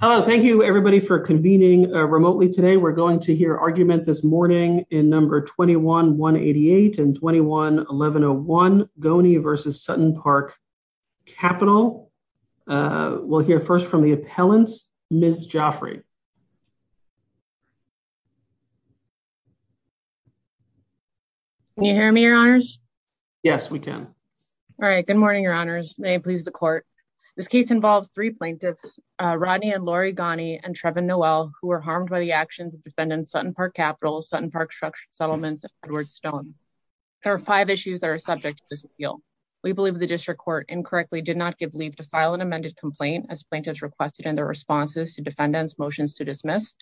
Hello, thank you everybody for convening remotely today. We're going to hear argument this morning in number 21-188 and 21-1101, Goney v. SuttonPark Capital. We'll hear first from the appellant, Ms. Joffrey. Can you hear me, Your Honors? Yes, we can. All right, good morning, Your Honors. May involve three plaintiffs, Rodney and Lori Goney, and Trevin Noel, who were harmed by the actions of defendants SuttonPark Capital, SuttonPark Structured Settlements, and Edward Stone. There are five issues that are subject to this appeal. We believe the District Court incorrectly did not give leave to file an amended complaint as plaintiffs requested in their responses to defendants' motions to dismiss.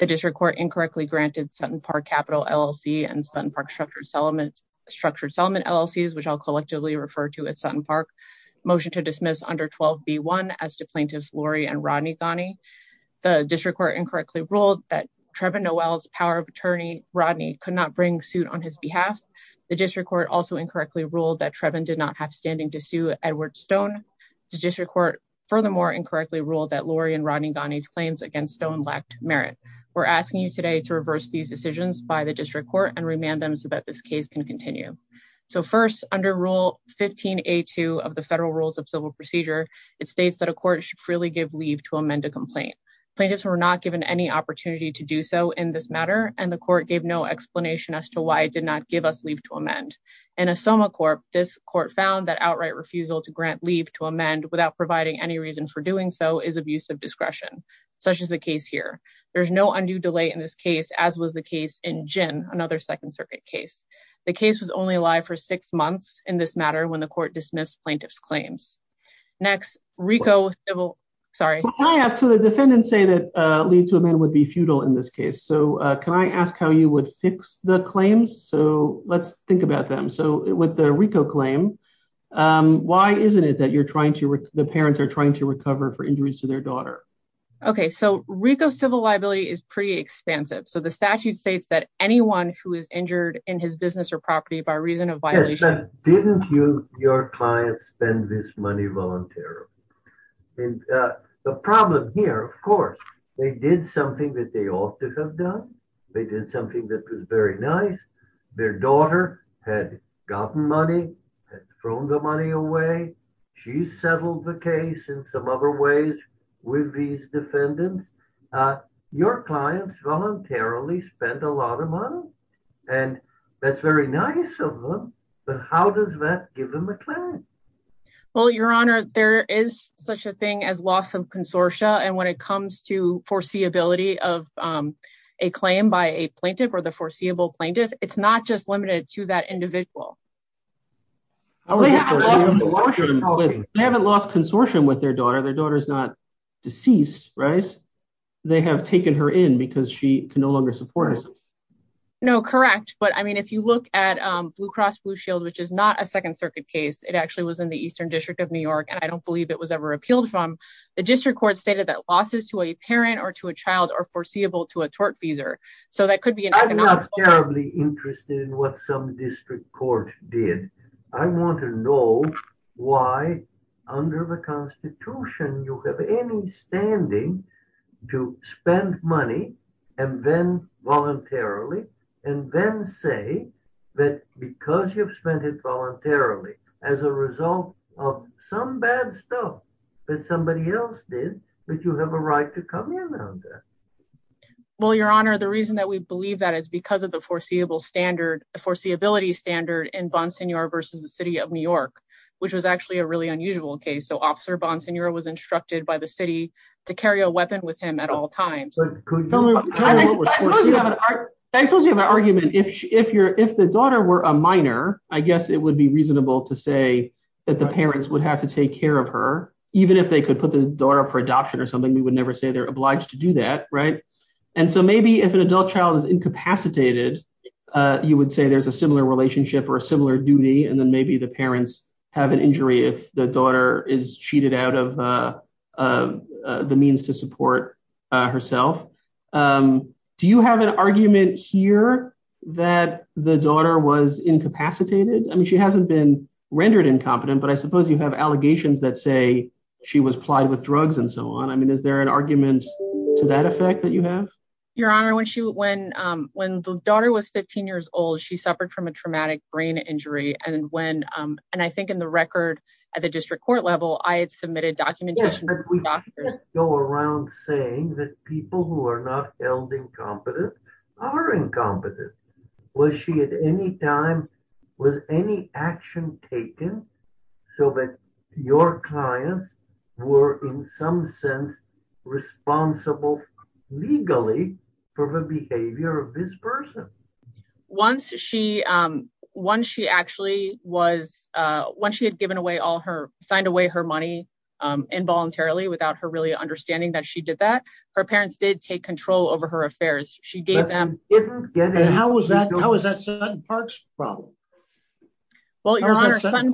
The District Court incorrectly granted SuttonPark Capital LLC and SuttonPark Structured Settlement LLCs, which I'll collectively refer to as SuttonPark, motion to dismiss under 12b1 as to plaintiffs Lori and Rodney Goney. The District Court incorrectly ruled that Trevin Noel's power of attorney, Rodney, could not bring suit on his behalf. The District Court also incorrectly ruled that Trevin did not have standing to sue Edward Stone. The District Court furthermore incorrectly ruled that Lori and Rodney Goney's claims against Stone lacked merit. We're asking you today to reverse these decisions by the District Court and remand them so that this case can continue. So first, under Rule 15a2 of the Federal Rules of Civil Procedure, it states that a court should freely give leave to amend a complaint. Plaintiffs were not given any opportunity to do so in this matter, and the court gave no explanation as to why it did not give us leave to amend. In a SOMA court, this court found that outright refusal to grant leave to amend without providing any reason for doing so is abuse of discretion, such as the case here. There's no undue delay in this case, as was the case in Ginn, another Second Circuit case. The case was only alive for six months in this matter when the court dismissed plaintiffs' claims. Next, RICO Civil, sorry. Can I ask, so the defendants say that leave to amend would be futile in this case, so can I ask how you would fix the claims? So let's think about them. So with the RICO claim, why isn't it that you're trying to, the parents are trying to recover for injuries to their daughter? Okay, so RICO Civil liability is pretty expansive, so the statute states that anyone who is injured in his business or property by reason of violation. Didn't you, your client, spend this money voluntarily? And the problem here, of course, they did something that they ought to have done. They did something that was very nice. Their daughter had gotten money, had thrown the money away. She settled the case in some other ways with these defendants. Your clients voluntarily spent a lot of money, and that's very nice of them, but how does that give them a claim? Well, Your Honor, there is such a thing as loss of consortia, and when it comes to foreseeability of a claim by a plaintiff or the district court, it's not just limited to that individual. They haven't lost consortium with their daughter. Their daughter's not deceased, right? They have taken her in because she can no longer support herself. No, correct, but I mean, if you look at Blue Cross Blue Shield, which is not a Second Circuit case, it actually was in the Eastern District of New York, and I don't believe it was ever repealed from. The district court stated that losses to a parent or to a child are foreseeable to a tortfeasor, so that could be an economic. I'm not terribly interested in what some district court did. I want to know why under the Constitution you have any standing to spend money and then voluntarily and then say that because you've spent it voluntarily as a result of some bad stuff that somebody else did that you have a right to come around there. Well, Your Honor, the reason that we believe that is because of the foreseeable standard, the foreseeability standard, in Bonseigneur versus the City of New York, which was actually a really unusual case. So Officer Bonseigneur was instructed by the city to carry a weapon with him at all times. I suppose you have an argument. If the daughter were a minor, I guess it would be reasonable to say that the parents would have to take care of her, even if they could put the daughter up for adoption or something. We would never say they're obliged to do that, right? And so maybe if an adult child is incapacitated, you would say there's a similar relationship or a similar duty, and then maybe the parents have an injury if the daughter is cheated out of the means to support herself. Do you have an argument here that the daughter was incapacitated? I mean, she hasn't been rendered incompetent, but I suppose you have allegations that say she was plied with drugs and so on. I mean, is there an argument to that effect that you have? Your Honor, when the daughter was 15 years old, she suffered from a traumatic brain injury. And I think in the record at the district court level, I had submitted documentation to the doctor. Yes, but we can't go around saying that people who are not held incompetent are incompetent. Was she at any time, was any action taken so that your clients were in some sense responsible legally for the behavior of this person? Once she actually was, once she had given away all her, signed away her money involuntarily without her really understanding that she did that, her parents did take control over her affairs. She gave them... And how was that Sutton Park's problem? Well, your Honor, Sutton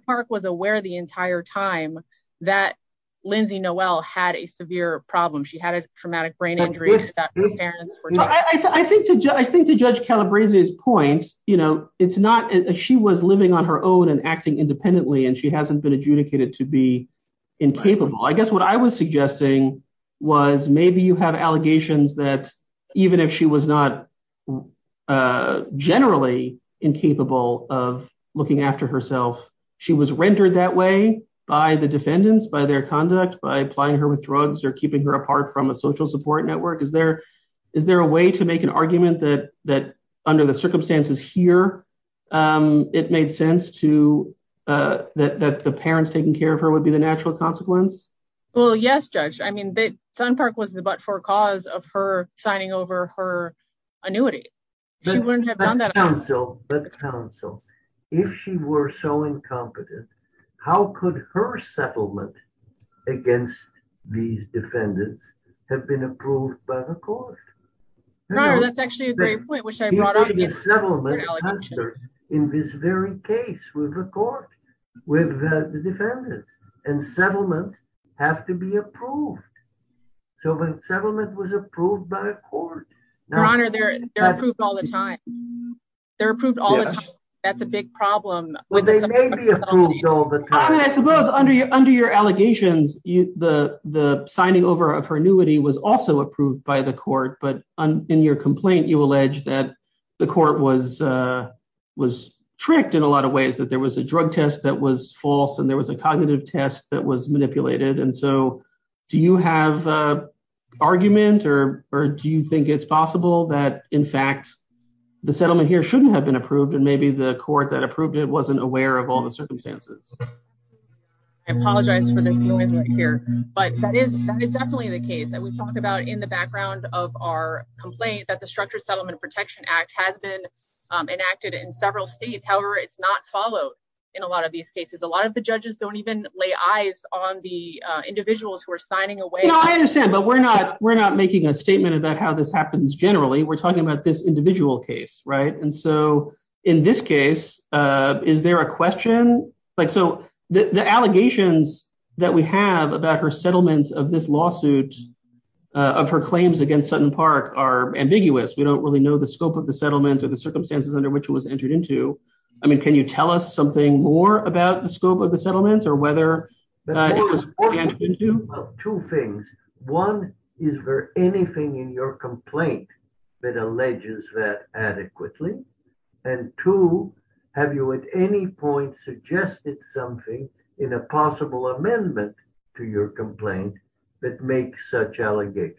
Park was aware the entire time that Lindsay Noelle had a severe problem. She had a traumatic brain injury that her parents were taking... I think to judge Calabrese's point, you know, it's not, she was living on her own and acting independently and she hasn't been adjudicated to be incapable. I guess what I was suggesting was maybe you have allegations that even if she was not generally incapable of looking after herself, she was rendered that way by the defendants, by their conduct, by applying her with drugs or keeping her apart from a social support network. Is there a way to make an argument that under the circumstances here, it made sense that the parents taking care of her would be the natural consequence? Well, yes, Judge. I mean, Sutton Park was the but-for-cause of her signing over her annuity. She wouldn't have done that otherwise. But counsel, if she were so incompetent, how could her settlement against these defendants have been approved by the court? Your Honor, that's actually a great point, which I brought up... In this very case with the court, with the defendants, and settlements have to be approved. So if a settlement was approved by a court... Your Honor, they're approved all the time. They're approved all the time. That's a big problem. Well, they may be approved all the time. I mean, I suppose under your allegations, the signing over of her annuity was also approved by the court, but in your complaint, you allege that the court was tricked in a lot of ways, that there was a drug test that was false, and there was a cognitive test that was manipulated. And so do you have an argument, or do you think it's possible that, in fact, the settlement here shouldn't have been approved, and maybe the court that approved it wasn't aware of all the circumstances? I apologize for this noise right here, but that is definitely the case. And we talked about in background of our complaint that the Structured Settlement Protection Act has been enacted in several states. However, it's not followed in a lot of these cases. A lot of the judges don't even lay eyes on the individuals who are signing away. I understand, but we're not making a statement about how this happens generally. We're talking about this individual case, right? And so in this case, is there a question? So the allegations that we have about her settlement of this lawsuit of her claims against Sutton Park are ambiguous. We don't really know the scope of the settlement or the circumstances under which it was entered into. I mean, can you tell us something more about the scope of the settlement or whether it was entered into? Two things. One, is there anything in your complaint that alleges that adequately? And two, have you at any point suggested something in a possible amendment to your complaint that makes such allegations?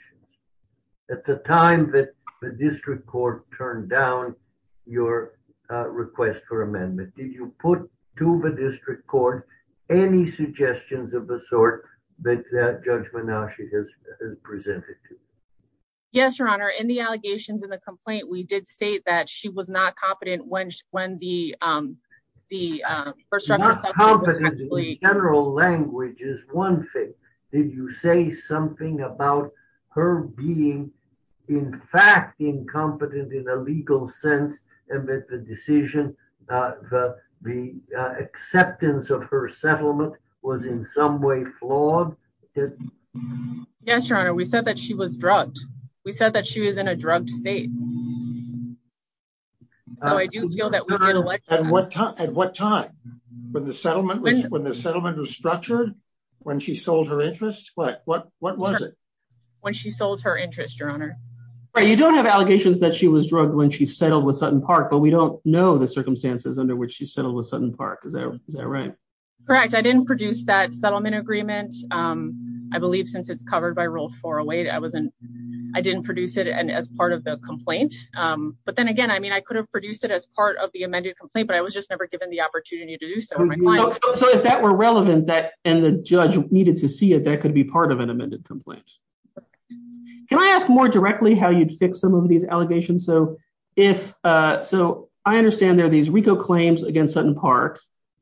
At the time that the district court turned down your request for amendment, did you put to the district court any suggestions of the sort that Judge Menashe has presented to you? Yes, Your Honor. In the allegations in the complaint, we did state that she was not competent when the First Structural Settlement was actually- Incompetent in general language is one thing. Did you say something about her being in fact incompetent in a legal sense amid the decision, the acceptance of her settlement was in some way flawed? Yes, Your Honor. We said that she was drugged. We said that she was in a drugged state. So I do feel that we can- At what time? When the settlement was structured? When she sold her interest? What was it? When she sold her interest, Your Honor. Right. You don't have allegations that she was drugged when she settled with Sutton Park, but we don't know the circumstances under which she settled with Sutton Park. Is that right? Correct. I didn't produce that settlement agreement. I believe since it's covered by complaint. But then again, I mean, I could have produced it as part of the amended complaint, but I was just never given the opportunity to do so with my client. So if that were relevant and the judge needed to see it, that could be part of an amended complaint. Can I ask more directly how you'd fix some of these allegations? So I understand there are these RICO claims against Sutton Park,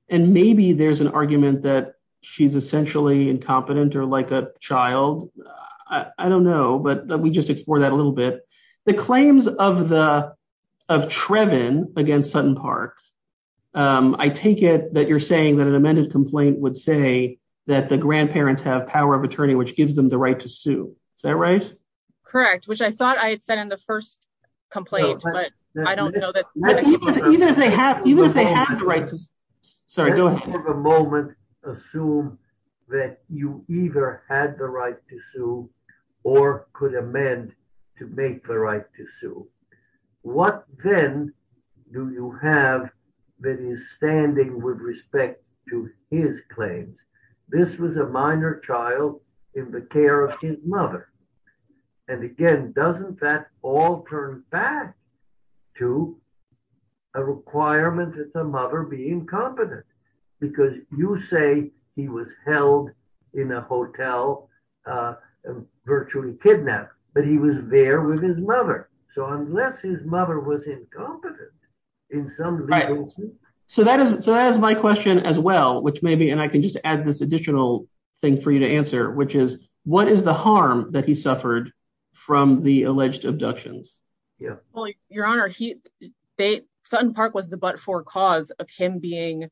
and maybe there's an argument that she's essentially incompetent or like a child. I don't know, but we just explore that a little bit. The claims of Trevin against Sutton Park, I take it that you're saying that an amended complaint would say that the grandparents have power of attorney, which gives them the right to sue. Is that right? Correct. Which I thought I had said in the first complaint, but I don't know that. Even if they have the right to sue. For the moment, assume that you either had the right to sue or could amend to make the right to sue. What then do you have that is standing with respect to his claims? This was a minor child in the care of his mother. And again, doesn't that all turn back to a requirement that the grandparent be incompetent? Because you say he was held in a hotel, virtually kidnapped, but he was there with his mother. So unless his mother was incompetent in some legal sense. So that is my question as well, which may be, and I can just add this additional thing for you to answer, which is what is the harm that he suffered from the alleged abductions? Well, your honor, Sutton Park was the but-for cause of him being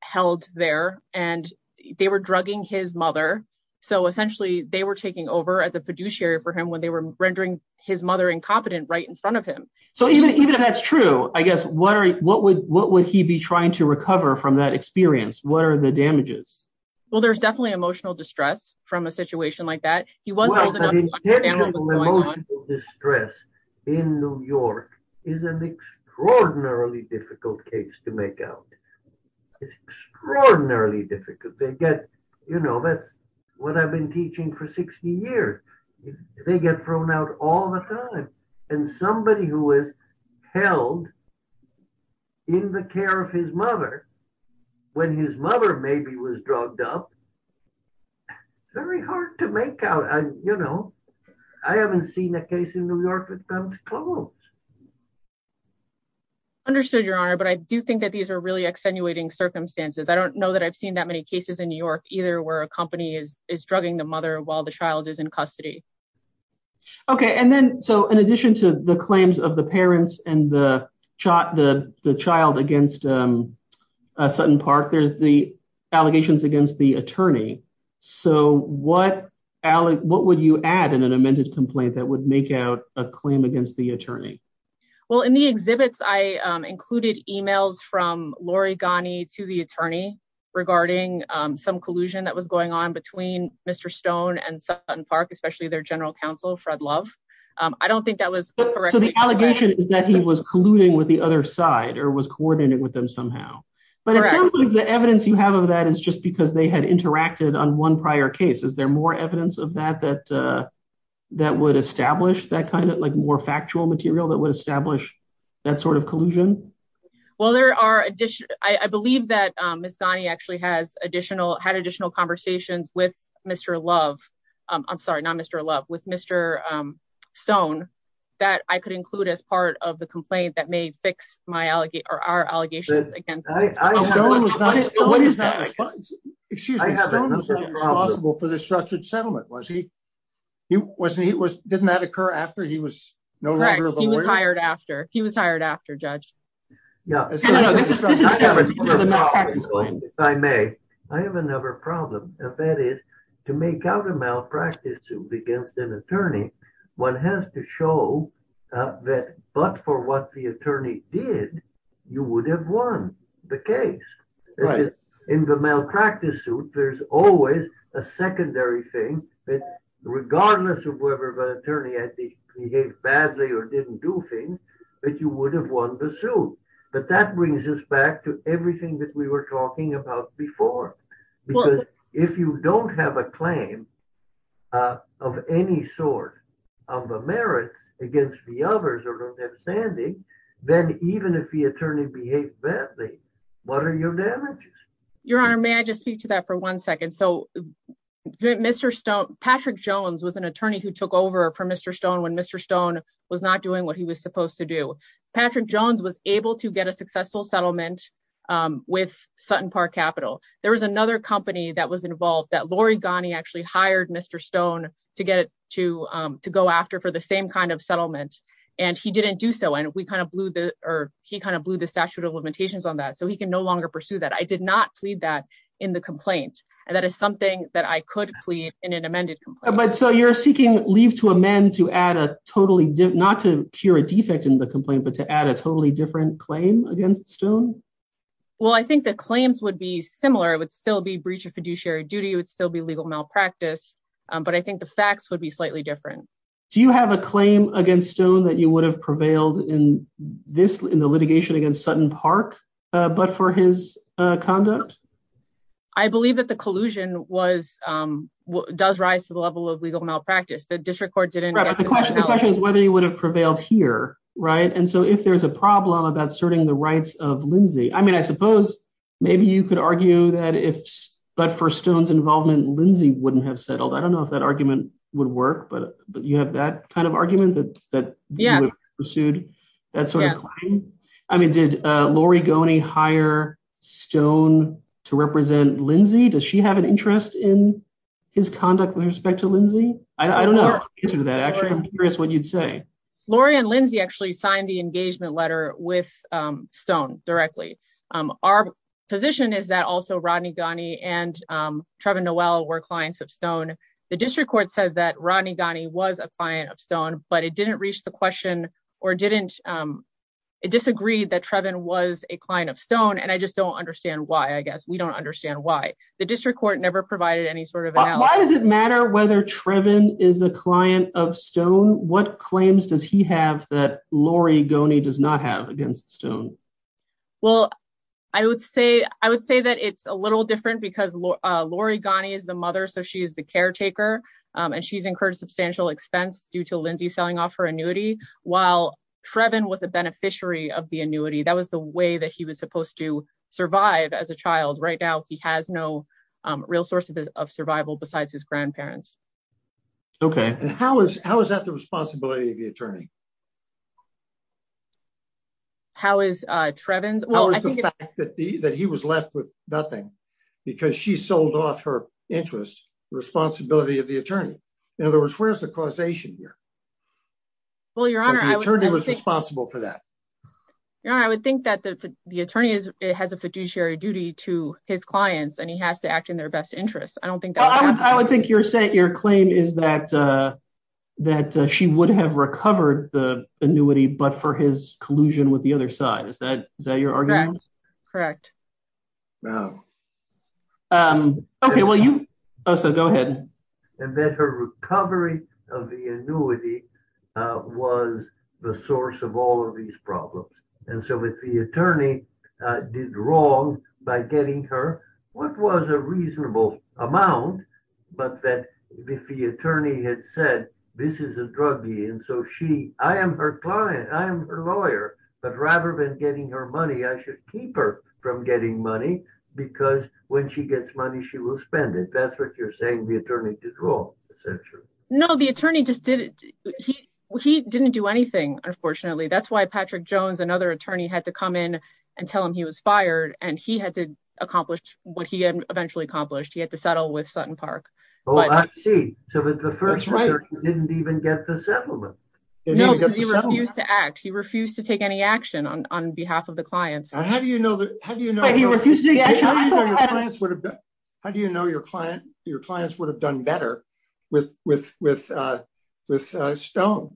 held there and they were drugging his mother. So essentially they were taking over as a fiduciary for him when they were rendering his mother incompetent right in front of him. So even if that's true, I guess, what would he be trying to recover from that experience? What are the damages? Well, there's definitely emotional distress from a situation like that. Well, the intensity of emotional distress in New York is an extraordinarily difficult case to make out. It's extraordinarily difficult. They get, you know, that's what I've been teaching for 60 years. They get thrown out all the time. And somebody who was held in the care of his mother, when his mother maybe was drugged up, very hard to make out. You know, I haven't seen a case in New York that comes close. Understood, your honor. But I do think that these are really extenuating circumstances. I don't know that I've seen that many cases in New York either where a company is drugging the mother while the child is in custody. Okay. And then, so in addition to the claims of the parents and the child against Sutton Park, there's the allegations against the attorney. So what would you add in an amended complaint that would make out a claim against the attorney? Well, in the exhibits, I included emails from Lori Ghani to the attorney regarding some collusion that was going on between Mr. Stone and Sutton Park, especially their general counsel, Fred Love. I don't think that was correct. So the allegation is that he was colluding with the other side or was coordinating with them somehow. But it sounds like the evidence you have of that is just because they had interacted on one prior case. Is there more evidence of that that would establish that kind of like more factual material that would establish that sort of collusion? Well, I believe that Ms. Ghani actually had additional conversations with Mr. Love. I'm sorry, not Mr. Love, with Mr. Stone that I could include as part of the complaint that may fix our allegations against him. Excuse me, Stone was not responsible for the structured settlement. Didn't that occur after he was no longer the lawyer? He was hired after, Judge. If I may, I have another problem. If that is to make out a malpractice suit against an attorney, one has to show that but for what the attorney did, you would have won the case. In the malpractice suit, there's always a secondary thing that regardless of whether the attorney had behaved badly or didn't do things, that you would have won the suit. But that brings us back to everything that we were talking about before. Because if you don't have a claim of any sort of a merit against the others or don't have a standing, then even if the attorney behaved badly, what are your damages? Your Honor, may I just speak to that for one second? So Mr. Stone, Patrick Jones was an attorney who took over for Mr. Stone when Mr. Stone was not doing what he was supposed to do. Patrick Jones was able to get a successful settlement with Sutton Park Capital. There was another company that was involved that Lori Ghani actually hired Mr. Stone to go after for the same kind of settlement. And he didn't do so. And he kind of blew the statute of limitations on that so he can no longer pursue that. I did not plead that in the complaint. And that is something that I could plead in an amended complaint. But so you're seeking leave to amend to add a totally, not to a defect in the complaint, but to add a totally different claim against Stone? Well, I think the claims would be similar. It would still be breach of fiduciary duty. It would still be legal malpractice. But I think the facts would be slightly different. Do you have a claim against Stone that you would have prevailed in this in the litigation against Sutton Park, but for his conduct? I believe that the collusion was, does rise to the level of legal malpractice. The District is whether he would have prevailed here, right? And so if there's a problem about asserting the rights of Lindsay, I mean, I suppose maybe you could argue that if, but for Stone's involvement, Lindsay wouldn't have settled. I don't know if that argument would work, but you have that kind of argument that pursued that sort of claim? I mean, did Lori Ghani hire Stone to represent Lindsay? Does she have an interest in his conduct with respect to Lindsay? I don't know the answer to that. Actually, I'm curious what you'd say. Lori and Lindsay actually signed the engagement letter with Stone directly. Our position is that also Rodney Ghani and Trevin Noel were clients of Stone. The District Court said that Rodney Ghani was a client of Stone, but it didn't reach the question or didn't, it disagreed that Trevin was a client of Stone. And I just don't understand why, we don't understand why. The District Court never provided any sort of analysis. Why does it matter whether Trevin is a client of Stone? What claims does he have that Lori Ghani does not have against Stone? Well, I would say that it's a little different because Lori Ghani is the mother, so she's the caretaker and she's incurred substantial expense due to Lindsay selling off her annuity while Trevin was a beneficiary of the annuity. That was the way he was supposed to survive as a child. Right now, he has no real source of survival besides his grandparents. Okay. And how is that the responsibility of the attorney? How is Trevin's? How is the fact that he was left with nothing because she sold off her interest, the responsibility of the attorney? In other words, where's the causation here? Well, Your Honor- The attorney was responsible for that. Your Honor, I would think that the attorney has a fiduciary duty to his clients and he has to act in their best interest. I don't think that- I would think your claim is that she would have recovered the annuity, but for his collusion with the other side. Is that your argument? Correct. Correct. Wow. Okay. Well, you- Oh, so go ahead. And that her recovery of the annuity was the source of all of these problems. And so if the attorney did wrong by getting her what was a reasonable amount, but that if the attorney had said, this is a drug dealer. And so she, I am her client, I am her lawyer, but rather than getting her money, I should keep her from getting money because when she gets money, she will spend it. That's what you're saying the attorney did wrong, essentially. No, the attorney just didn't. He didn't do anything, unfortunately. That's why Patrick Jones and other attorney had to come in and tell him he was fired and he had to accomplish what he had eventually accomplished. He had to settle with Sutton Park. Oh, I see. So the first- That's right. Didn't even get the settlement. No, because he refused to act. He refused to take any action on behalf of the clients. How do you know your clients would have done better with Stone?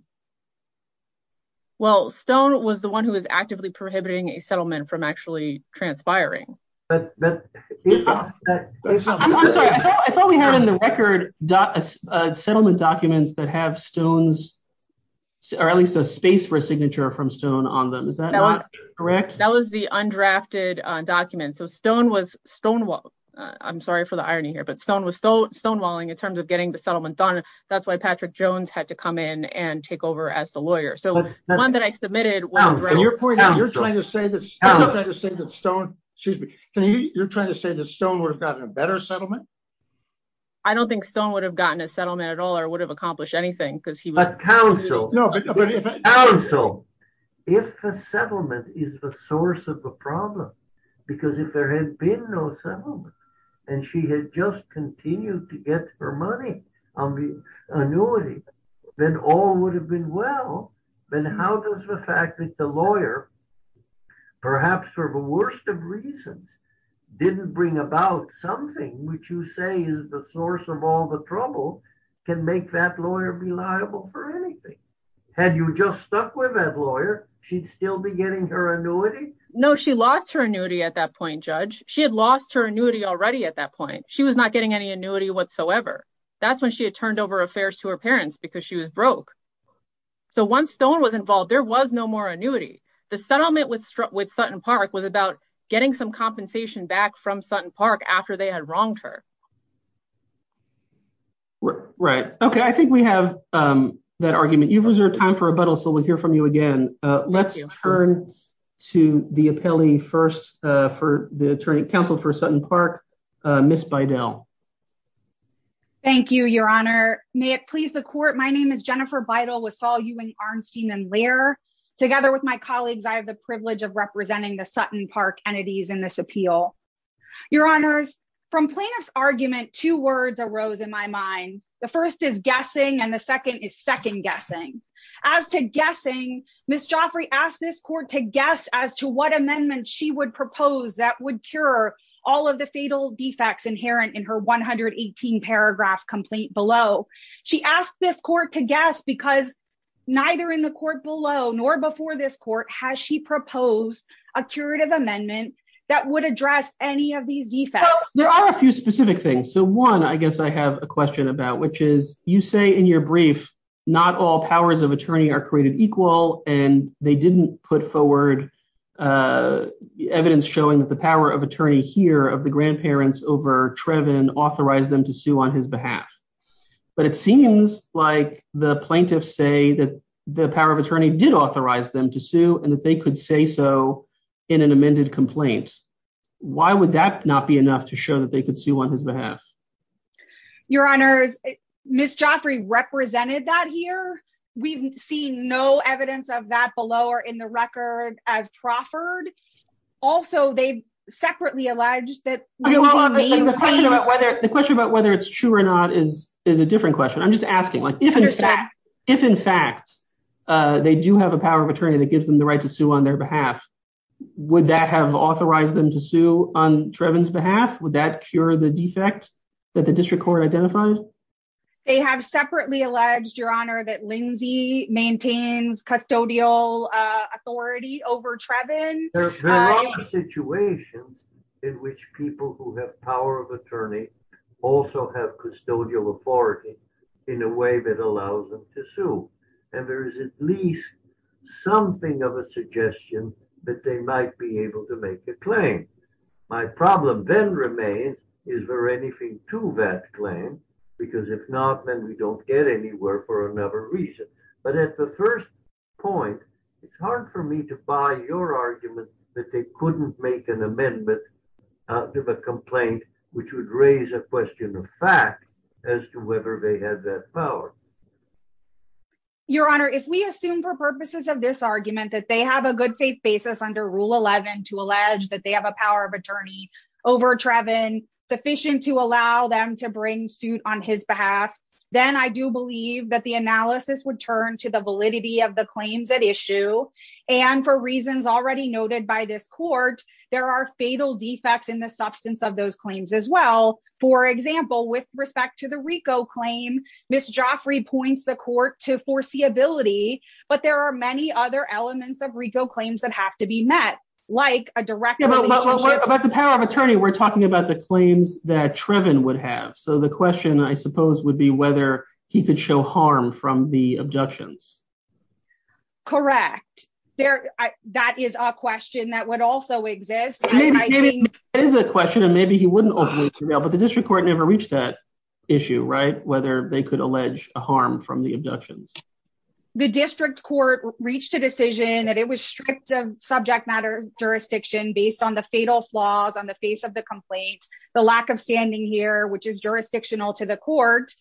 Well, Stone was the one who was actively prohibiting a settlement from actually transpiring. I'm sorry. I thought we had in the record settlement documents that have Stone's, or at least a space for a signature from Stone on them. Is that correct? That was the undrafted document. So Stone was stonewalling. I'm sorry for the irony here, but Stone was stonewalling in terms of getting the settlement done. That's why Patrick Jones had to come in and take over as the lawyer. So the one that I submitted was- And you're pointing out, you're trying to say that Stone would have gotten a better settlement? I don't think Stone would have gotten a settlement at all or would have accomplished anything because he was- A council. A council. If a settlement is the source of the problem, because if there had been no settlement and she had just continued to get her money on the annuity, then all would have been well. Then how does the fact that the lawyer, perhaps for the worst of reasons, didn't bring about something which you say is the source of all the trouble, can make that lawyer be liable for anything? Had you just stuck with that lawyer, she'd still be getting her annuity? No, she lost her annuity at that point, Judge. She had lost her annuity already at that point. She was not getting any annuity whatsoever. That's when she had turned over affairs to her parents because she was broke. So once Stone was involved, there was no more annuity. The settlement with Sutton Park was about getting some compensation back from Sutton Park after they had wronged her. Right. Okay. I think we have that argument. You've reserved time for rebuttal, so we'll hear from you again. Let's turn to the appellee first for the attorney counsel for Sutton Park, Ms. Bidel. Thank you, Your Honor. May it please the court, my name is Jennifer Bidel with Saul Ewing Arnstein and Laird. Together with my colleagues, I have the privilege of representing the Sutton Park entities in this appeal. Your Honors, from plaintiff's argument, two words arose in my mind. The first is guessing and the second is second guessing. As to guessing, Ms. Joffrey asked this court to guess as to what amendment she would propose that would cure all of the fatal defects inherent in her 118 paragraph complaint below. She asked this court to guess because neither in the court below nor before this court has she proposed a curative amendment that would address any of these defects. There are a few specific things. So one, I guess I have a question about, which is you say in your brief, not all powers of attorney are created equal and they didn't put forward evidence showing that the power of attorney here of the grandparents over Trevin authorized them to sue on his behalf. But it seems like the plaintiffs say that the power of attorney did authorize them to sue and that they could say so in an amended complaint. Why would that not be enough to show that they could sue on his behalf? Your Honors, Ms. Joffrey represented that here. We've seen no evidence of that below or in the record as proffered. Also, they separately alleged that the question about whether it's true or not is a different question. I'm just asking if in fact they do have a power of attorney that gives them the right to sue on their behalf, would that have authorized them to sue on Trevin's behalf? Would that cure the defect that the district court identified? They have separately alleged, Your Honor, that Lindsay maintains custodial authority over Trevin. There are situations in which people who have power of attorney also have custodial authority in a way that allows them to sue. And there is at least something of a suggestion that they might be able to make a claim. My problem then remains, is there anything to that claim? Because if not, then we don't get anywhere for another reason. But at the first point, it's hard for me to buy your argument that they couldn't make an amendment out of a complaint which would raise a question of fact as to whether they had that power. Your Honor, if we assume for purposes of this argument that they have a good faith basis under Rule 11 to allege that they have a power of attorney over Trevin sufficient to allow them to bring suit on his behalf, then I do believe that the analysis would turn to the validity of the claims at issue. And for reasons already noted by this court, there are fatal defects in the substance of those claims as well. For example, with respect to the RICO claim, Ms. Joffrey points the court to foreseeability, but there are many other elements of RICO claims that have to be met, like a direct relationship. But the power of attorney, we're talking about claims that Trevin would have. So the question, I suppose, would be whether he could show harm from the abductions. Correct. That is a question that would also exist. It is a question, and maybe he wouldn't, but the district court never reached that issue, right? Whether they could allege a harm from the abductions. The district court reached a decision that it was strict subject matter jurisdiction based on fatal flaws on the face of the complaint, the lack of standing here, which is jurisdictional to the court.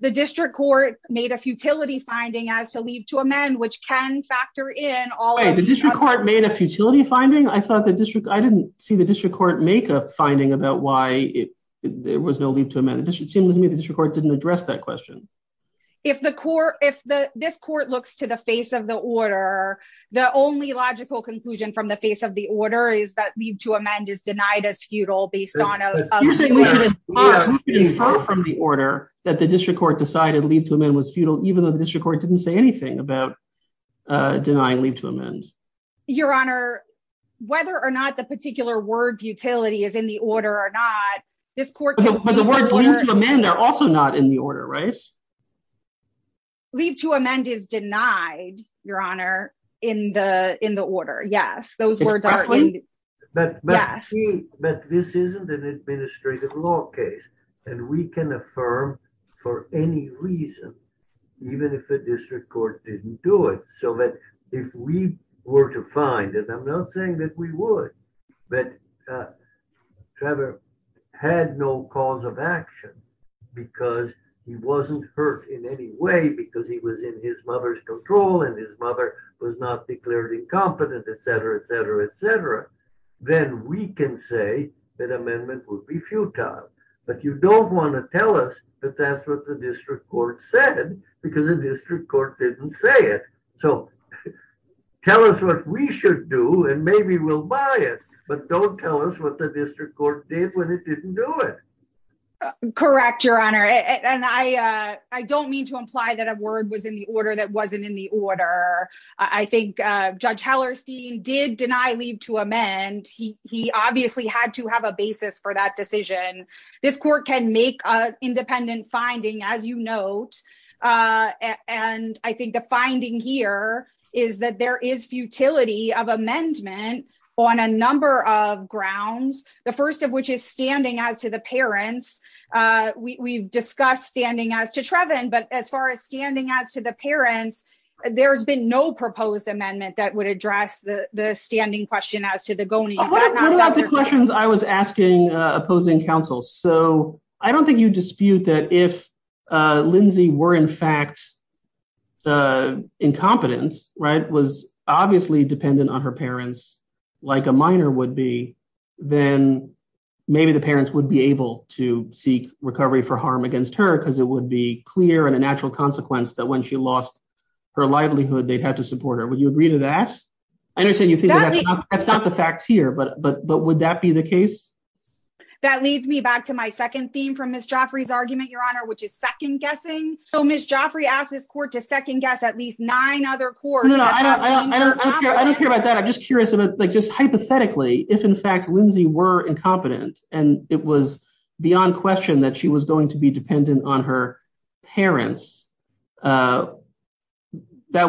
The district court made a futility finding as to leave to amend, which can factor in all- Wait, the district court made a futility finding? I didn't see the district court make a finding about why there was no leave to amend. It seems to me the district court didn't address that question. If this court looks to the face of the order, the only logical conclusion from the face of the order is that leave to amend is denied as futile based on- You're saying we could infer from the order that the district court decided leave to amend was futile, even though the district court didn't say anything about denying leave to amend. Your Honor, whether or not the particular word futility is in the order or not, this court- But the words leave to amend are also not in the order, right? Leave to amend is denied, Your Honor, in the order. Yes, those words are in the order. But this isn't an administrative law case, and we can affirm for any reason, even if the district court didn't do it, so that if we were to find, and I'm not saying that we in any way because he was in his mother's control and his mother was not declared incompetent, et cetera, et cetera, et cetera, then we can say that amendment would be futile. But you don't want to tell us that that's what the district court said, because the district court didn't say it. So tell us what we should do, and maybe we'll buy it, but don't tell us what the district court did when it didn't do it. Correct, Your Honor, and I don't mean to imply that a word was in the order that wasn't in the order. I think Judge Hellerstein did deny leave to amend. He obviously had to have a basis for that decision. This court can make an independent finding, as you note, and I think the finding here is that there is futility of amendment on a number of grounds, the first of which is standing as to parents. We've discussed standing as to Trevin, but as far as standing as to the parents, there's been no proposed amendment that would address the standing question as to the goanies. What about the questions I was asking opposing counsel? So I don't think you dispute that if Lindsay were in fact incompetent, was obviously dependent on her parents like a minor would be, then maybe the parents would be able to seek recovery for harm against her because it would be clear and a natural consequence that when she lost her livelihood, they'd have to support her. Would you agree to that? I understand you think that's not the facts here, but would that be the case? That leads me back to my second theme from Ms. Joffrey's argument, Your Honor, which is second guessing. So Ms. Joffrey asked this court to second guess at least nine other courts. I don't care about that. I'm just curious about like just hypothetically, if in fact, Lindsay were incompetent and it was beyond question that she was going to be dependent on her parents, that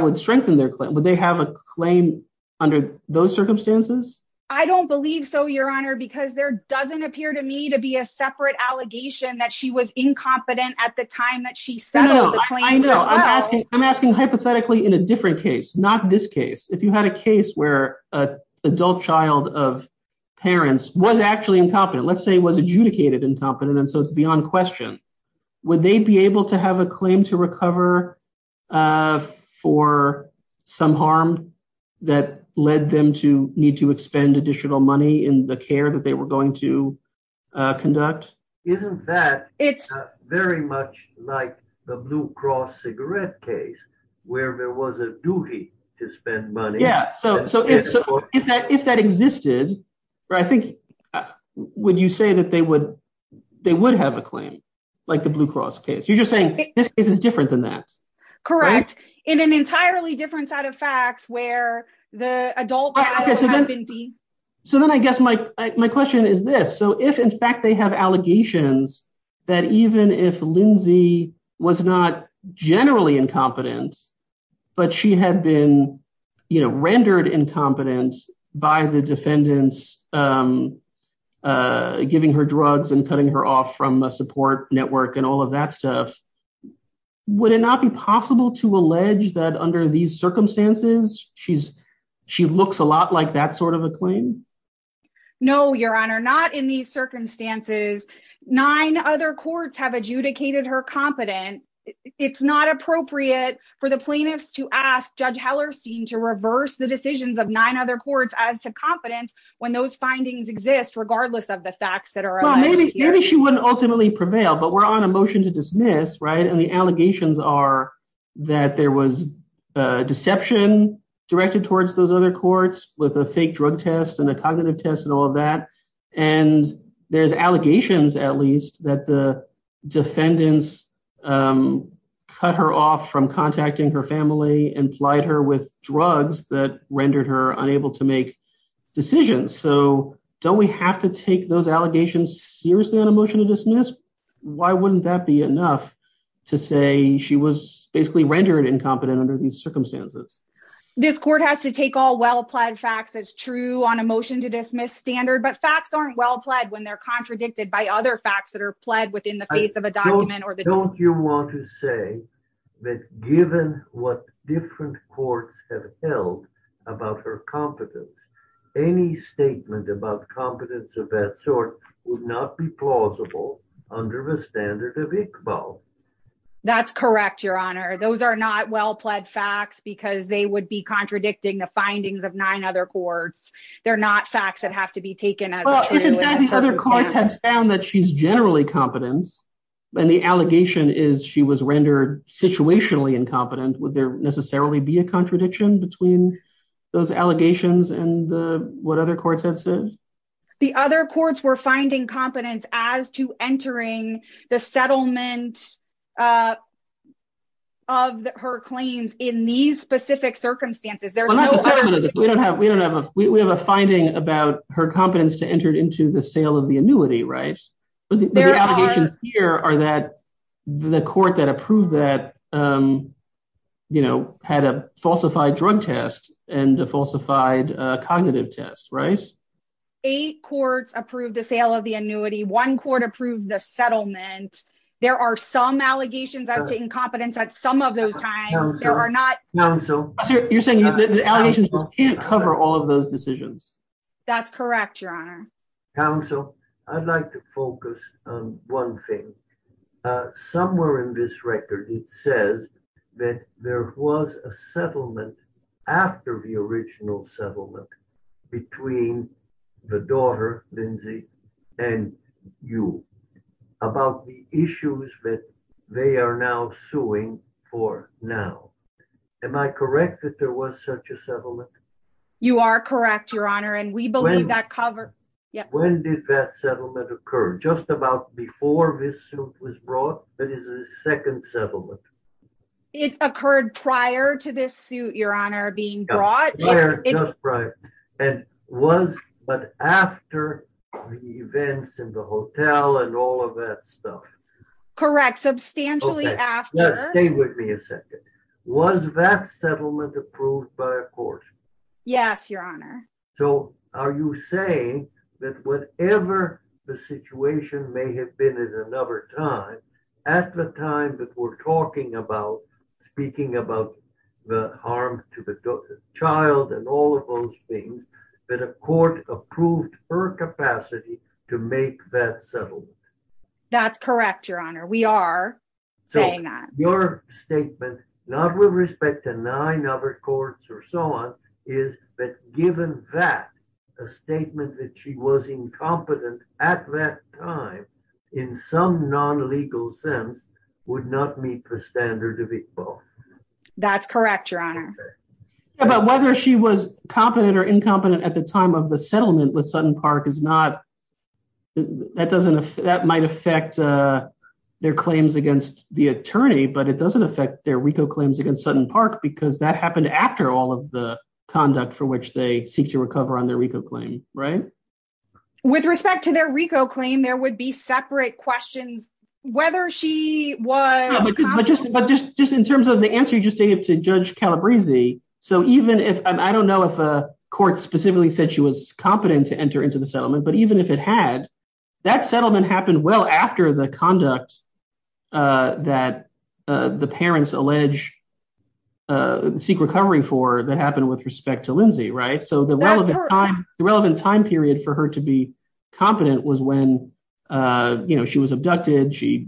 would strengthen their claim. Would they have a claim under those circumstances? I don't believe so, Your Honor, because there doesn't appear to me to be a separate allegation that she was incompetent at the time that she settled the claims as well. I'm asking hypothetically in a different case, not this case. If you had a case where a adult child of parents was actually incompetent, let's say was adjudicated incompetent, and so it's beyond question, would they be able to have a claim to recover for some harm that led them to need to expend additional money in the care that they were going to conduct? Isn't that it's very much like the Blue Cross cigarette case where there was a duty to spend money? Yeah. So if that existed, I think, would you say that they would have a claim like the Blue Cross case? You're just saying this is different than that. Correct. In an entirely different set of facts where the adult. Okay. So then I guess my question is this. So if in fact they have allegations that even if Lindsay was not generally incompetent, but she had been rendered incompetent by the defendants giving her drugs and cutting her off from a support network and all of that stuff, would it not be possible to allege that under these circumstances, she looks a lot like that sort of a claim? No, Your Honor, not in these circumstances. Nine other courts have adjudicated her competent. It's not appropriate for the plaintiffs to ask Judge Hellerstein to reverse the decisions of nine other courts as to competence when those findings exist, regardless of the facts that are out there. Maybe she wouldn't ultimately prevail, but we're on a motion to dismiss, right? And the allegations are that there was a deception directed towards those other courts with a fake drug test and a cognitive test and all of that. And there's allegations at least that the defendants cut her off from contacting her family and plied her with drugs that rendered her unable to make decisions. So don't we have to take those allegations seriously on a motion to dismiss? Why wouldn't that be enough to say she was basically rendered incompetent under these circumstances? This court has to take all well-plied facts as true on a motion to dismiss standard, but facts aren't well-plied when they're contradicted by other facts that are plied within the face of a document. Don't you want to say that given what different courts have held about her competence, any statement about competence of that sort would not be plausible under the standard of Iqbal? That's correct, Your Honor. Those are not well-plied facts because they would be contradicting the findings of nine other courts. They're not facts that have to be taken as true. Well, if the defendants' other courts have found that she's generally competent, and the allegation is she was rendered situationally incompetent, would there necessarily be a contradiction between those allegations and what other courts have said? The other courts were finding competence as to entering the settlement of her claims in these specific circumstances. Well, not the settlement. We have a finding about her competence to enter into the sale of the annuity, right? The allegations here are that the court that approved that had a falsified drug test and a falsified cognitive test, right? Eight courts approved the sale of the annuity. One court approved the settlement. There are some allegations as to incompetence at some of those times. You're saying the allegations can't cover all of those decisions? That's correct, Your Honor. Counsel, I'd like to focus on one thing. Somewhere in this record, it says that there was a settlement after the original settlement between the daughter, Lindsay, and you about the issues that they are now suing for now. Am I correct that there was such a settlement? You are correct, Your Honor, and we believe that cover... When did that settlement occur? Just about before this suit was brought? That is the second settlement. It occurred prior to this suit, Your Honor, being brought? Just prior. And was but after the events in the hotel and all of that stuff. Correct. Substantially after. Now, stay with me a second. Was that settlement approved by a court? Yes, Your Honor. So are you saying that whatever the situation may have been at another time, at the time that we're talking about speaking about the harm to the child and all of those things, that a court approved her capacity to make that settlement? That's correct, Your Honor. We are saying that. Your statement, not with respect to nine other courts or so on, is that given that, a statement that she was incompetent at that time, in some non-legal sense, would not meet the standard of equal. That's correct, Your Honor. Yeah, but whether she was competent or incompetent at the time of the settlement with Sutton Park is not, that doesn't, that might affect their claims against the attorney, but it doesn't affect their RICO claims against Sutton Park because that happened after all of the conduct for which they seek to recover on their RICO claim, right? With respect to their RICO claim, there would be separate questions whether she was competent. But just in terms of the answer you just gave to Judge Calabresi, so even if, I don't know if a settlement, but even if it had, that settlement happened well after the conduct that the parents allege, seek recovery for, that happened with respect to Lindsay, right? So the relevant time period for her to be competent was when, you know, she was abducted, she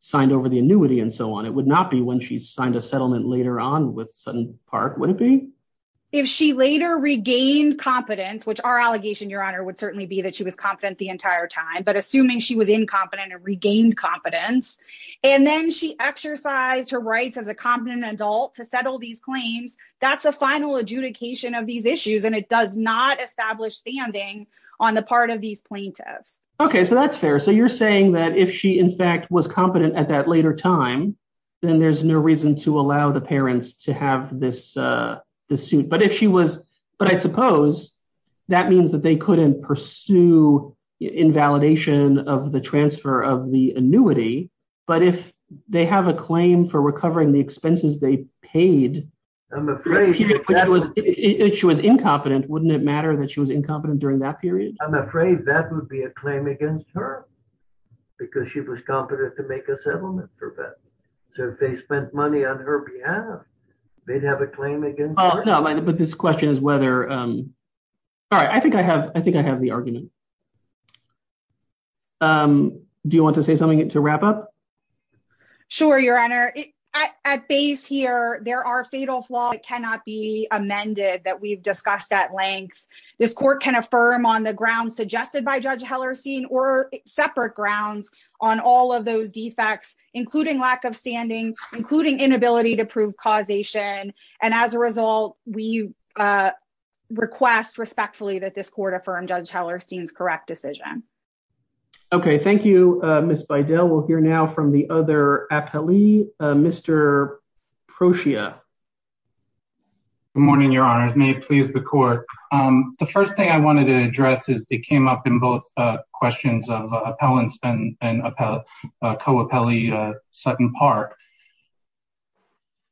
signed over the annuity and so on. It would not be when she signed a settlement later on with Sutton Park, would it be? If she later regained competence, which our allegation, Your Honor, would certainly be that she was competent the entire time, but assuming she was incompetent and regained competence, and then she exercised her rights as a competent adult to settle these claims, that's a final adjudication of these issues and it does not establish standing on the part of these plaintiffs. Okay, so that's fair. So you're saying that if she, in fact, was competent at that later time, then there's no reason to allow the parents to have this suit. But if she was, but I suppose that means that they couldn't pursue invalidation of the transfer of the annuity, but if they have a claim for recovering the expenses they paid, if she was incompetent, wouldn't it matter that she was incompetent during that period? I'm afraid that would be a claim against her because she was competent to make a settlement for that. So if they spent money on her behalf, they'd have a claim against her. Oh, no, but this question is whether, all right, I think I have the argument. Do you want to say something to wrap up? Sure, Your Honor. At base here, there are fatal flaws that cannot be amended that we've discussed at length. This court can affirm on the grounds suggested by Judge Hellerstein or separate grounds on all of those defects, including lack of standing, including inability to prove causation. And as a result, we request respectfully that this court affirm Judge Hellerstein's correct decision. Okay. Thank you, Ms. Beidell. We'll hear now from the other appellee, Mr. Procia. Good morning, Your Honors. May it please the court. The first thing I wanted to address is it came up in both questions of appellants and co-appellee Sutton Park.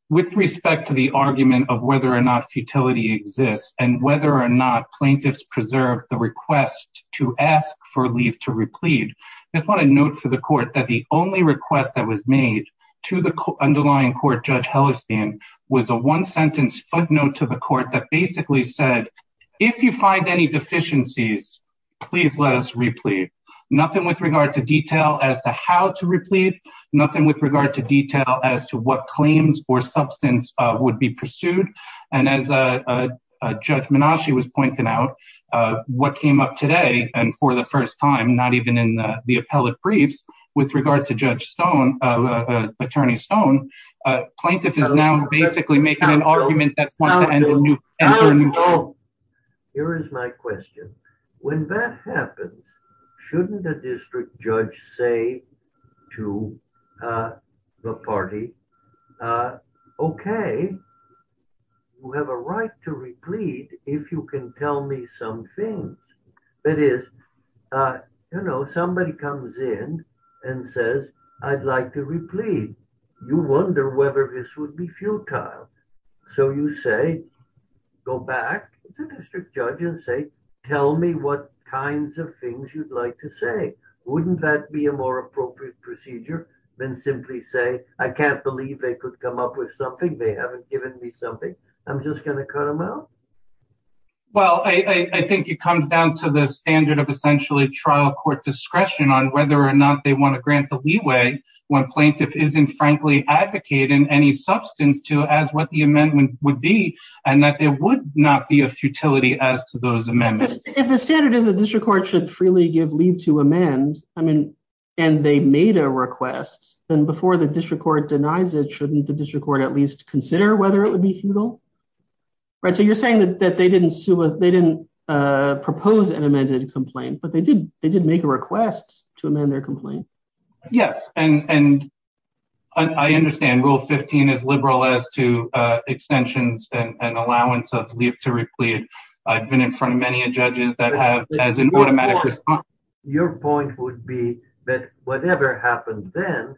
With respect to the argument of whether or not futility exists and whether or not plaintiffs preserved the request to ask for leave to replead, I just want to note for the court that the only request that was made to the underlying court, Judge Hellerstein, was a one-sentence footnote to the court that basically said, if you find any deficiencies, please let us replead. Nothing with regard to detail as to how to replead, nothing with regard to detail as to what claims or substance would be pursued. And as Judge Menashe was pointing out, what came up today and for the first time, not even in the appellate briefs, with regard to Judge Stone, Attorney Stone, a plaintiff is now basically making an argument that wants to end a new case. Here is my question. When that happens, shouldn't a district judge say to the party, okay, you have a right to replead if you can tell me some things. That is, you know, somebody comes in and says, I'd like to replead. You wonder whether this would be futile. So you say, go back as a district judge and say, tell me what kinds of things you'd like to say. Wouldn't that be a more appropriate procedure than simply say, I can't believe they could come up with something. They haven't given me something. I'm just going to cut them out. Well, I think it comes down to the standard of essentially trial court discretion on whether or not they want to grant the leeway when plaintiff isn't frankly advocating any substance to as what the amendment would be and that there would not be a futility as to those amendments. If the standard is the district court should freely give leave to amend, I mean, and they made a request, then before the district court denies it, shouldn't the district court at least consider whether it would be futile? So you're saying that they didn't propose an amended complaint, but they did make a complaint? Yes. And I understand rule 15 is liberal as to extensions and allowance of leave to replete. I've been in front of many judges that have as an automatic response. Your point would be that whatever happened then,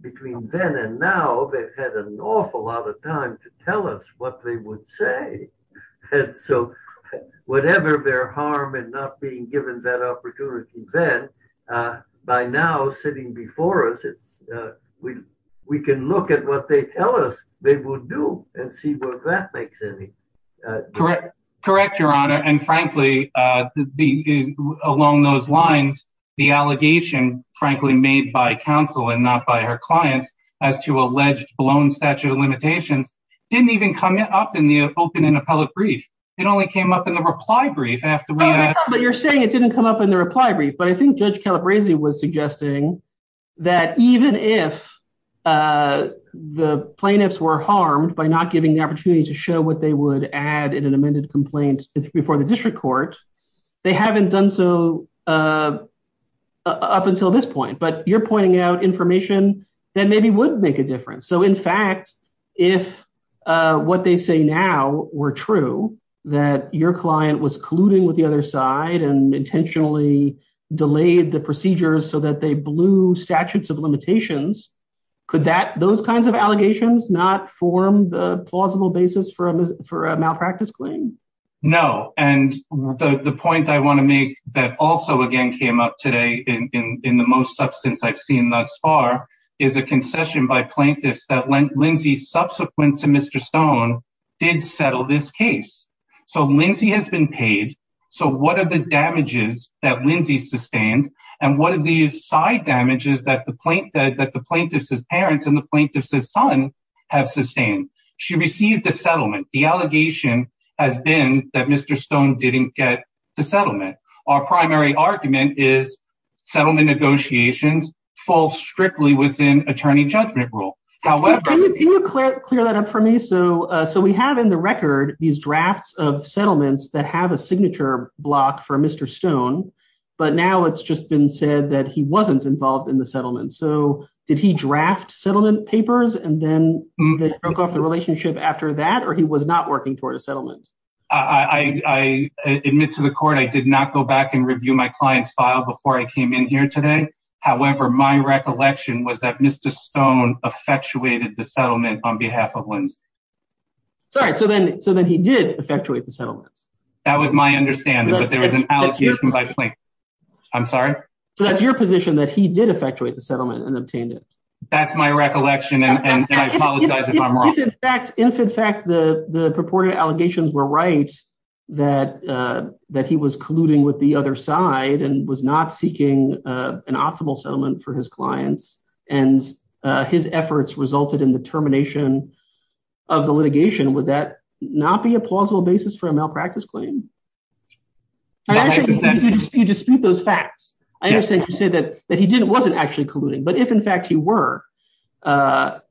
between then and now, they've had an awful lot of time to tell us what they would say. So whatever their harm and not being given that opportunity then, by now sitting before us, we can look at what they tell us they would do and see what that makes any difference. Correct, Your Honor. And frankly, along those lines, the allegation frankly made by counsel and not by her clients as to alleged blown statute of limitations didn't even come up in the open and appellate brief. It only came up in the reply brief after we had- But you're saying it didn't come up in the reply brief. But I think Judge Calabresi was suggesting that even if the plaintiffs were harmed by not giving the opportunity to show what they would add in an amended complaint before the district court, they haven't done so up until this point. You're pointing out information that maybe would make a difference. So in fact, if what they say now were true, that your client was colluding with the other side and intentionally delayed the procedures so that they blew statutes of limitations, could those kinds of allegations not form the plausible basis for a malpractice claim? No. And the point I want to make that also again came up today in the most substance I've seen thus far is a concession by plaintiffs that Lindsay, subsequent to Mr. Stone, did settle this case. So Lindsay has been paid. So what are the damages that Lindsay sustained? And what are these side damages that the plaintiff's parents and the plaintiff's son have sustained? She received a settlement. The allegation has been that Mr. Stone didn't get the settlement. Our primary argument is settlement negotiations fall strictly within attorney judgment rule. However, can you clear that up for me? So we have in the record these drafts of settlements that have a signature block for Mr. Stone, but now it's just been said that he wasn't involved in the settlement. So did he draft settlement papers and then they broke off the relationship after that? Or he was not working toward a settlement? I admit to the court, I did not go back and review my client's file before I came in here today. However, my recollection was that Mr. Stone effectuated the settlement on behalf of Lindsay. Sorry. So then he did effectuate the settlement. That was my understanding, but there was an allegation by plaintiff. I'm sorry? So that's your position that he did effectuate the settlement and obtained it. That's my recollection. And I apologize if I'm wrong. If, in fact, the purported allegations were right that he was colluding with the other side and was not seeking an optimal settlement for his clients and his efforts resulted in the termination of the litigation, would that not be a plausible basis for a malpractice claim? You dispute those facts. I understand you say that he wasn't actually colluding, but if, in fact, he were and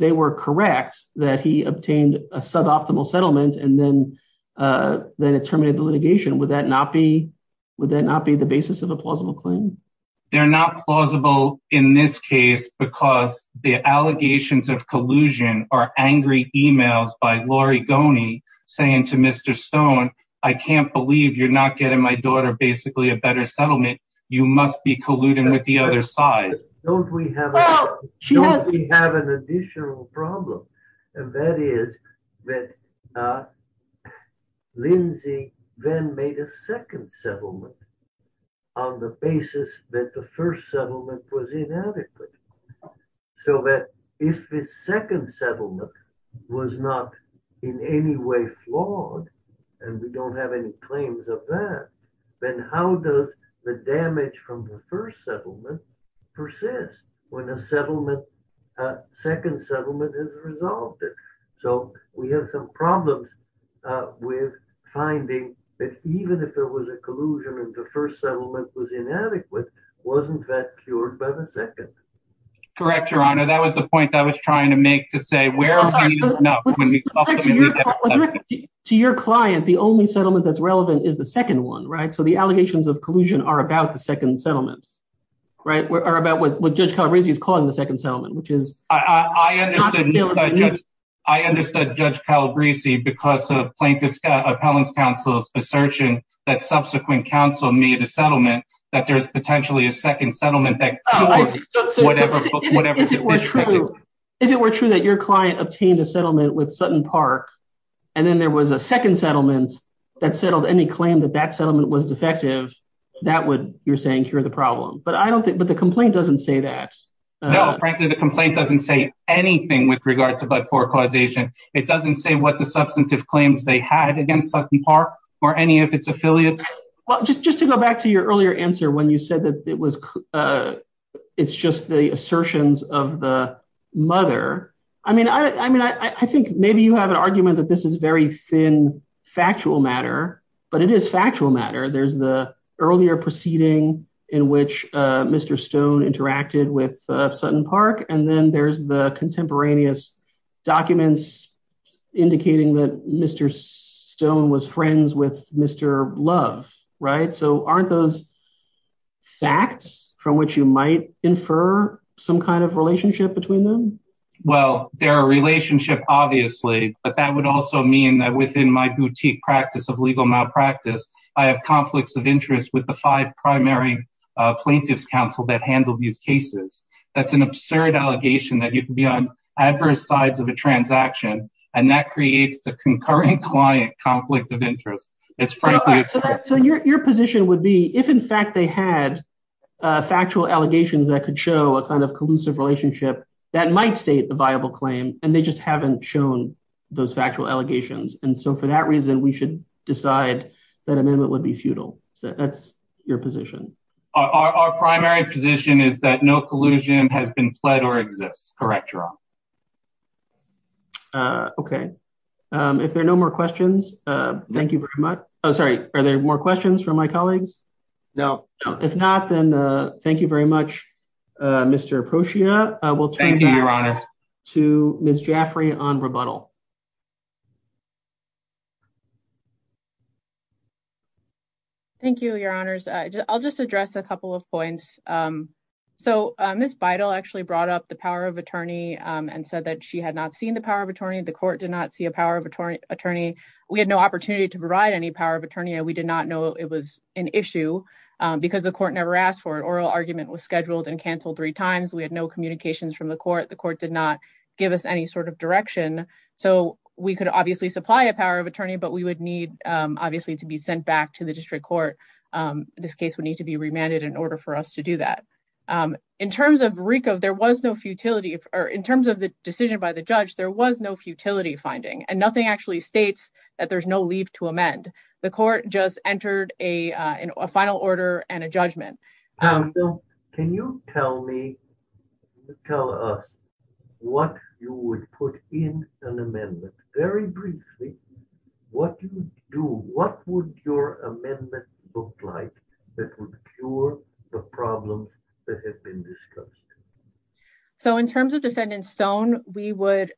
they were correct that he obtained a suboptimal settlement and then terminated the litigation, would that not be the basis of a plausible claim? They're not plausible in this case because the allegations of collusion are angry emails by Lori Goney saying to Mr. Stone, I can't believe you're not getting my daughter basically a better settlement. You must be colluding with the other side. Don't we have an additional problem? And that is that Lindsay then made a second settlement on the basis that the first settlement was inadequate. So that if the second settlement was not in any way flawed and we don't have any claims of that, then how does the damage from the first settlement persist when a second settlement has resolved it? So we have some problems with finding that even if there was a collusion and the first settlement was inadequate, wasn't that cured by the second? Correct, Your Honor. That was the point that I was trying to make to say, where are we enough? When we talk to your client, the only settlement that's relevant is the second one, right? So the allegations of collusion are about the second settlement, right? Or about what Judge Calabresi is calling the second settlement, which is. I understood Judge Calabresi because of plaintiff's appellate counsel's assertion that subsequent counsel made a settlement that there's potentially a second settlement. Oh, so if it were true that your client obtained a settlement with Sutton Park and then there was a second settlement that settled any claim that that settlement was defective, that would, you're saying, cure the problem. But I don't think, but the complaint doesn't say that. No, frankly, the complaint doesn't say anything with regard to Budford causation. It doesn't say what the substantive claims they had against Sutton Park or any of its affiliates. Well, just to go back to your earlier answer when you said that it was, it's just the assertions of the mother. I mean, I think maybe you have an argument that this is very thin factual matter, but it is factual matter. There's the earlier proceeding in which Mr. Stone interacted with Sutton Park. And then there's the contemporaneous documents indicating that Mr. Stone was friends with Mr. Love, right? So aren't those facts from which you might infer some kind of relationship between them? Well, they're a relationship, obviously, but that would also mean that within my boutique practice of legal malpractice, I have conflicts of interest with the five primary plaintiffs counsel that handled these cases. That's an absurd allegation that you can be on adverse sides of a transaction. And that creates the concurrent client conflict of interest. So your position would be if, in fact, they had factual allegations that could show a kind of collusive relationship that might state a viable claim, and they just haven't shown those factual allegations. And so for that reason, we should decide that amendment would be futile. So that's your position. Our primary position is that no collusion has been pled or exists. Correct, Jerome. Okay. If there are no more questions, thank you very much. Oh, sorry. Are there more questions from my colleagues? No, if not, then thank you very much, Mr. Poshia. I will turn to Ms. Jaffrey on rebuttal. Thank you, Your Honors. I'll just address a couple of points. So Ms. Beidle actually brought up the power of attorney. And said that she had not seen the power of attorney. The court did not see a power of attorney. We had no opportunity to provide any power of attorney. We did not know it was an issue because the court never asked for it. Oral argument was scheduled and canceled three times. We had no communications from the court. The court did not give us any sort of direction. So we could obviously supply a power of attorney. But we would need, obviously, to be sent back to the district court. This case would need to be remanded in order for us to do that. In terms of RICO, there was no futility. Or in terms of the decision by the judge, there was no futility finding. And nothing actually states that there's no leap to amend. The court just entered a final order and a judgment. Can you tell me, tell us, what you would put in an amendment? Very briefly, what do you do? What would your amendment look like that would cure the problems that have been discussed? So in terms of Defendant Stone, we would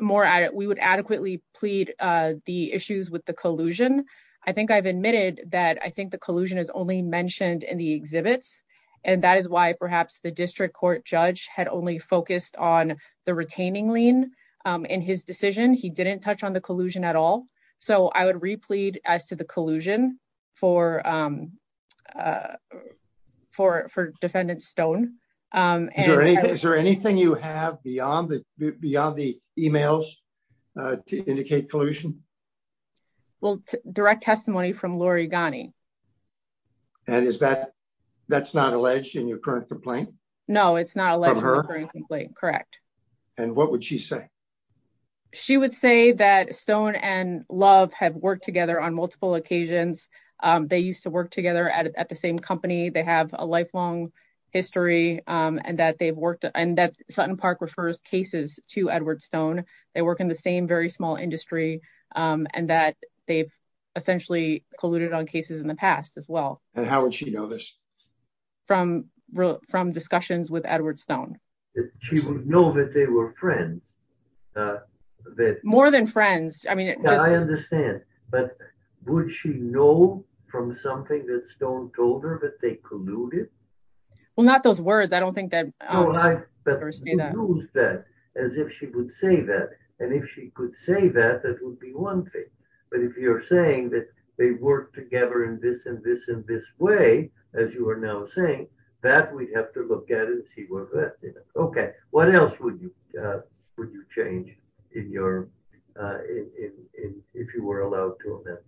more, we would adequately plead the issues with the collusion. I think I've admitted that I think the collusion is only mentioned in the exhibits. And that is why perhaps the district court judge had only focused on the retaining lien in his decision. He didn't touch on the collusion at all. So I would replead as to the collusion for Defendant Stone. Is there anything you have beyond the emails to indicate collusion? Well, direct testimony from Lori Ghani. And is that, that's not alleged in your current complaint? No, it's not alleged in the current complaint, correct. And what would she say? She would say that Stone and Love have worked together on multiple occasions. They used to work together at the same company. They have a lifelong history and that they've worked, and that Sutton Park refers cases to Edward Stone. They work in the same very small industry. And that they've essentially colluded on cases in the past as well. And how would she know this? From discussions with Edward Stone. She would know that they were friends. More than friends. I mean, I understand. But would she know from something that Stone told her that they colluded? Well, not those words. I don't think that. As if she would say that. And if she could say that, that would be one thing. But if you're saying that they work together in this and this and this way, as you are now saying, that we'd have to look at it and see what that is. Okay. What else would you change if you were allowed to amend?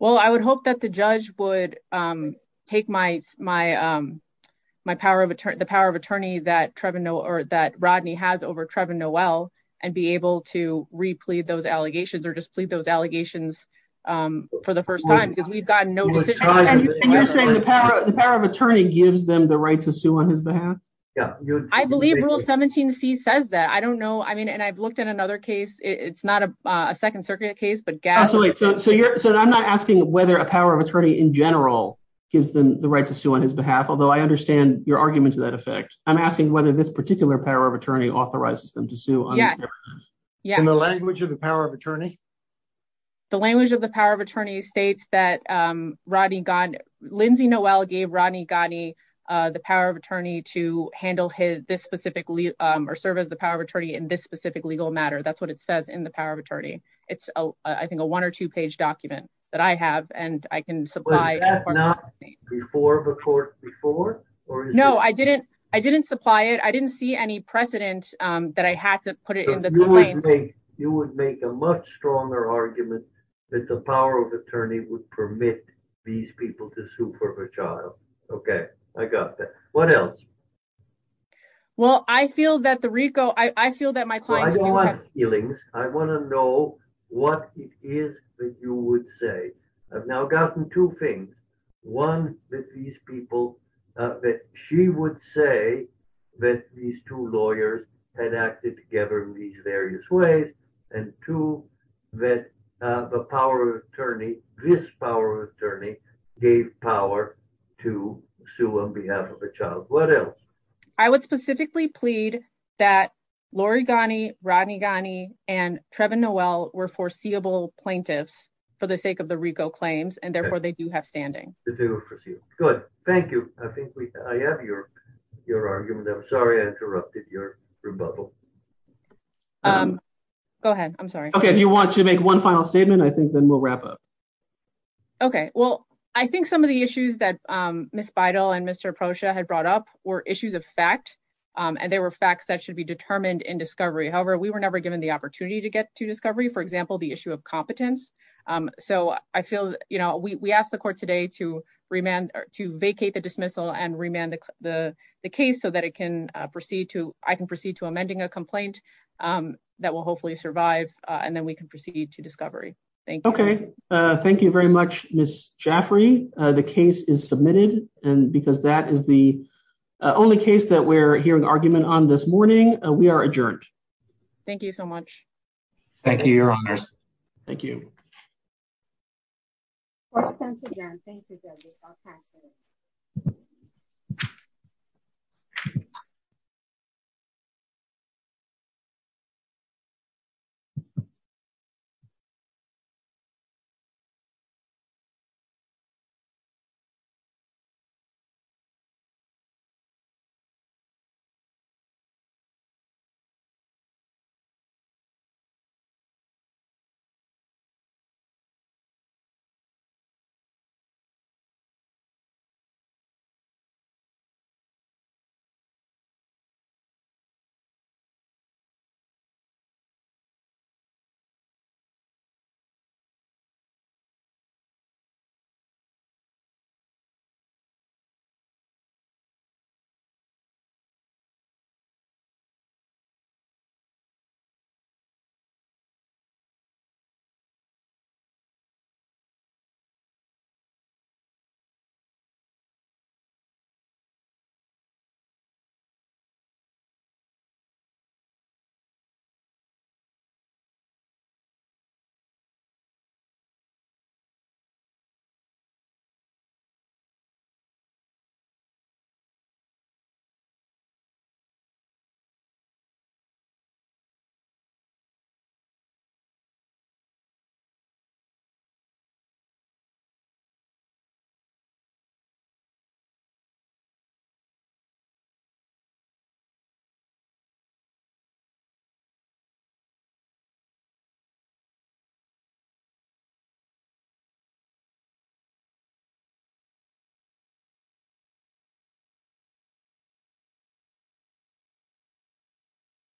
Well, I would hope that the judge would take the power of attorney that Rodney has over Trevor Noel and be able to replead those allegations or just plead those allegations for the first time, because we've gotten no decision. And you're saying the power of attorney gives them the right to sue on his behalf? Yeah. I believe Rule 17c says that. I don't know. I mean, and I've looked at another case. It's not a Second Circuit case, but Gabbard. Absolutely. So I'm not asking whether a power of attorney in general gives them the right to sue on his behalf, although I understand your argument to that effect. I'm asking whether this particular power of attorney authorizes them to sue. Yeah. In the language of the power of attorney? The language of the power of attorney states that Rodney, Lindsay Noel gave Rodney Ghani the power of attorney to handle this specifically or serve as the power of attorney in this specific legal matter. That's what it says in the power of attorney. It's, I think, a one or two page document that I have and I can supply. Was that not before the court before? No, I didn't. I didn't supply it. I didn't see any precedent that I had to put it in the claim. You would make a much stronger argument that the power of attorney would permit these people to sue for her child. Okay, I got that. What else? Well, I feel that the RICO, I feel that my client. I don't want feelings. I want to know what it is that you would say. I've now gotten two things. One, that these people, that she would say that these two lawyers had acted together in these various ways. And two, that the power of attorney, this power of attorney gave power to sue on behalf of a child. What else? I would specifically plead that Lori Ghani, Rodney Ghani, and Trevin Noel were foreseeable plaintiffs for the sake of the RICO claims. And therefore, they do have standing. Good. Thank you. I think I have your argument. I'm sorry I interrupted your rebuttal. Um, go ahead. I'm sorry. Okay. If you want to make one final statement, I think then we'll wrap up. Okay. Well, I think some of the issues that Ms. Beidle and Mr. Procia had brought up were issues of fact. And there were facts that should be determined in discovery. However, we were never given the opportunity to get to discovery. For example, the issue of competence. So I feel, you know, we asked the court today to vacate the dismissal and remand the case so that I can proceed to amending a complaint. That will hopefully survive. And then we can proceed to discovery. Thank you. Okay. Thank you very much, Ms. Jaffrey. The case is submitted. And because that is the only case that we're hearing argument on this morning, we are adjourned. Thank you so much. Thank you, your honors. Thank you. Thank you. Thank you. Thank you. Thank you. Thank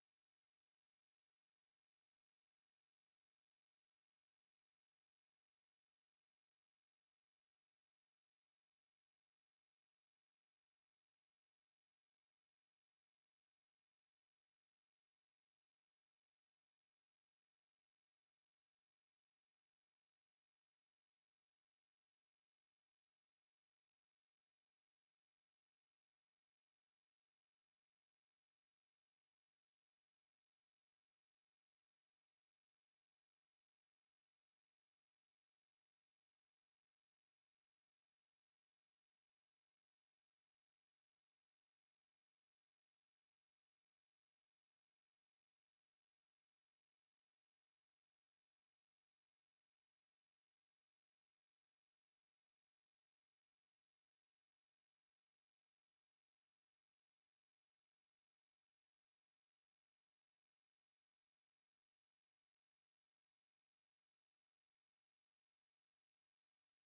you.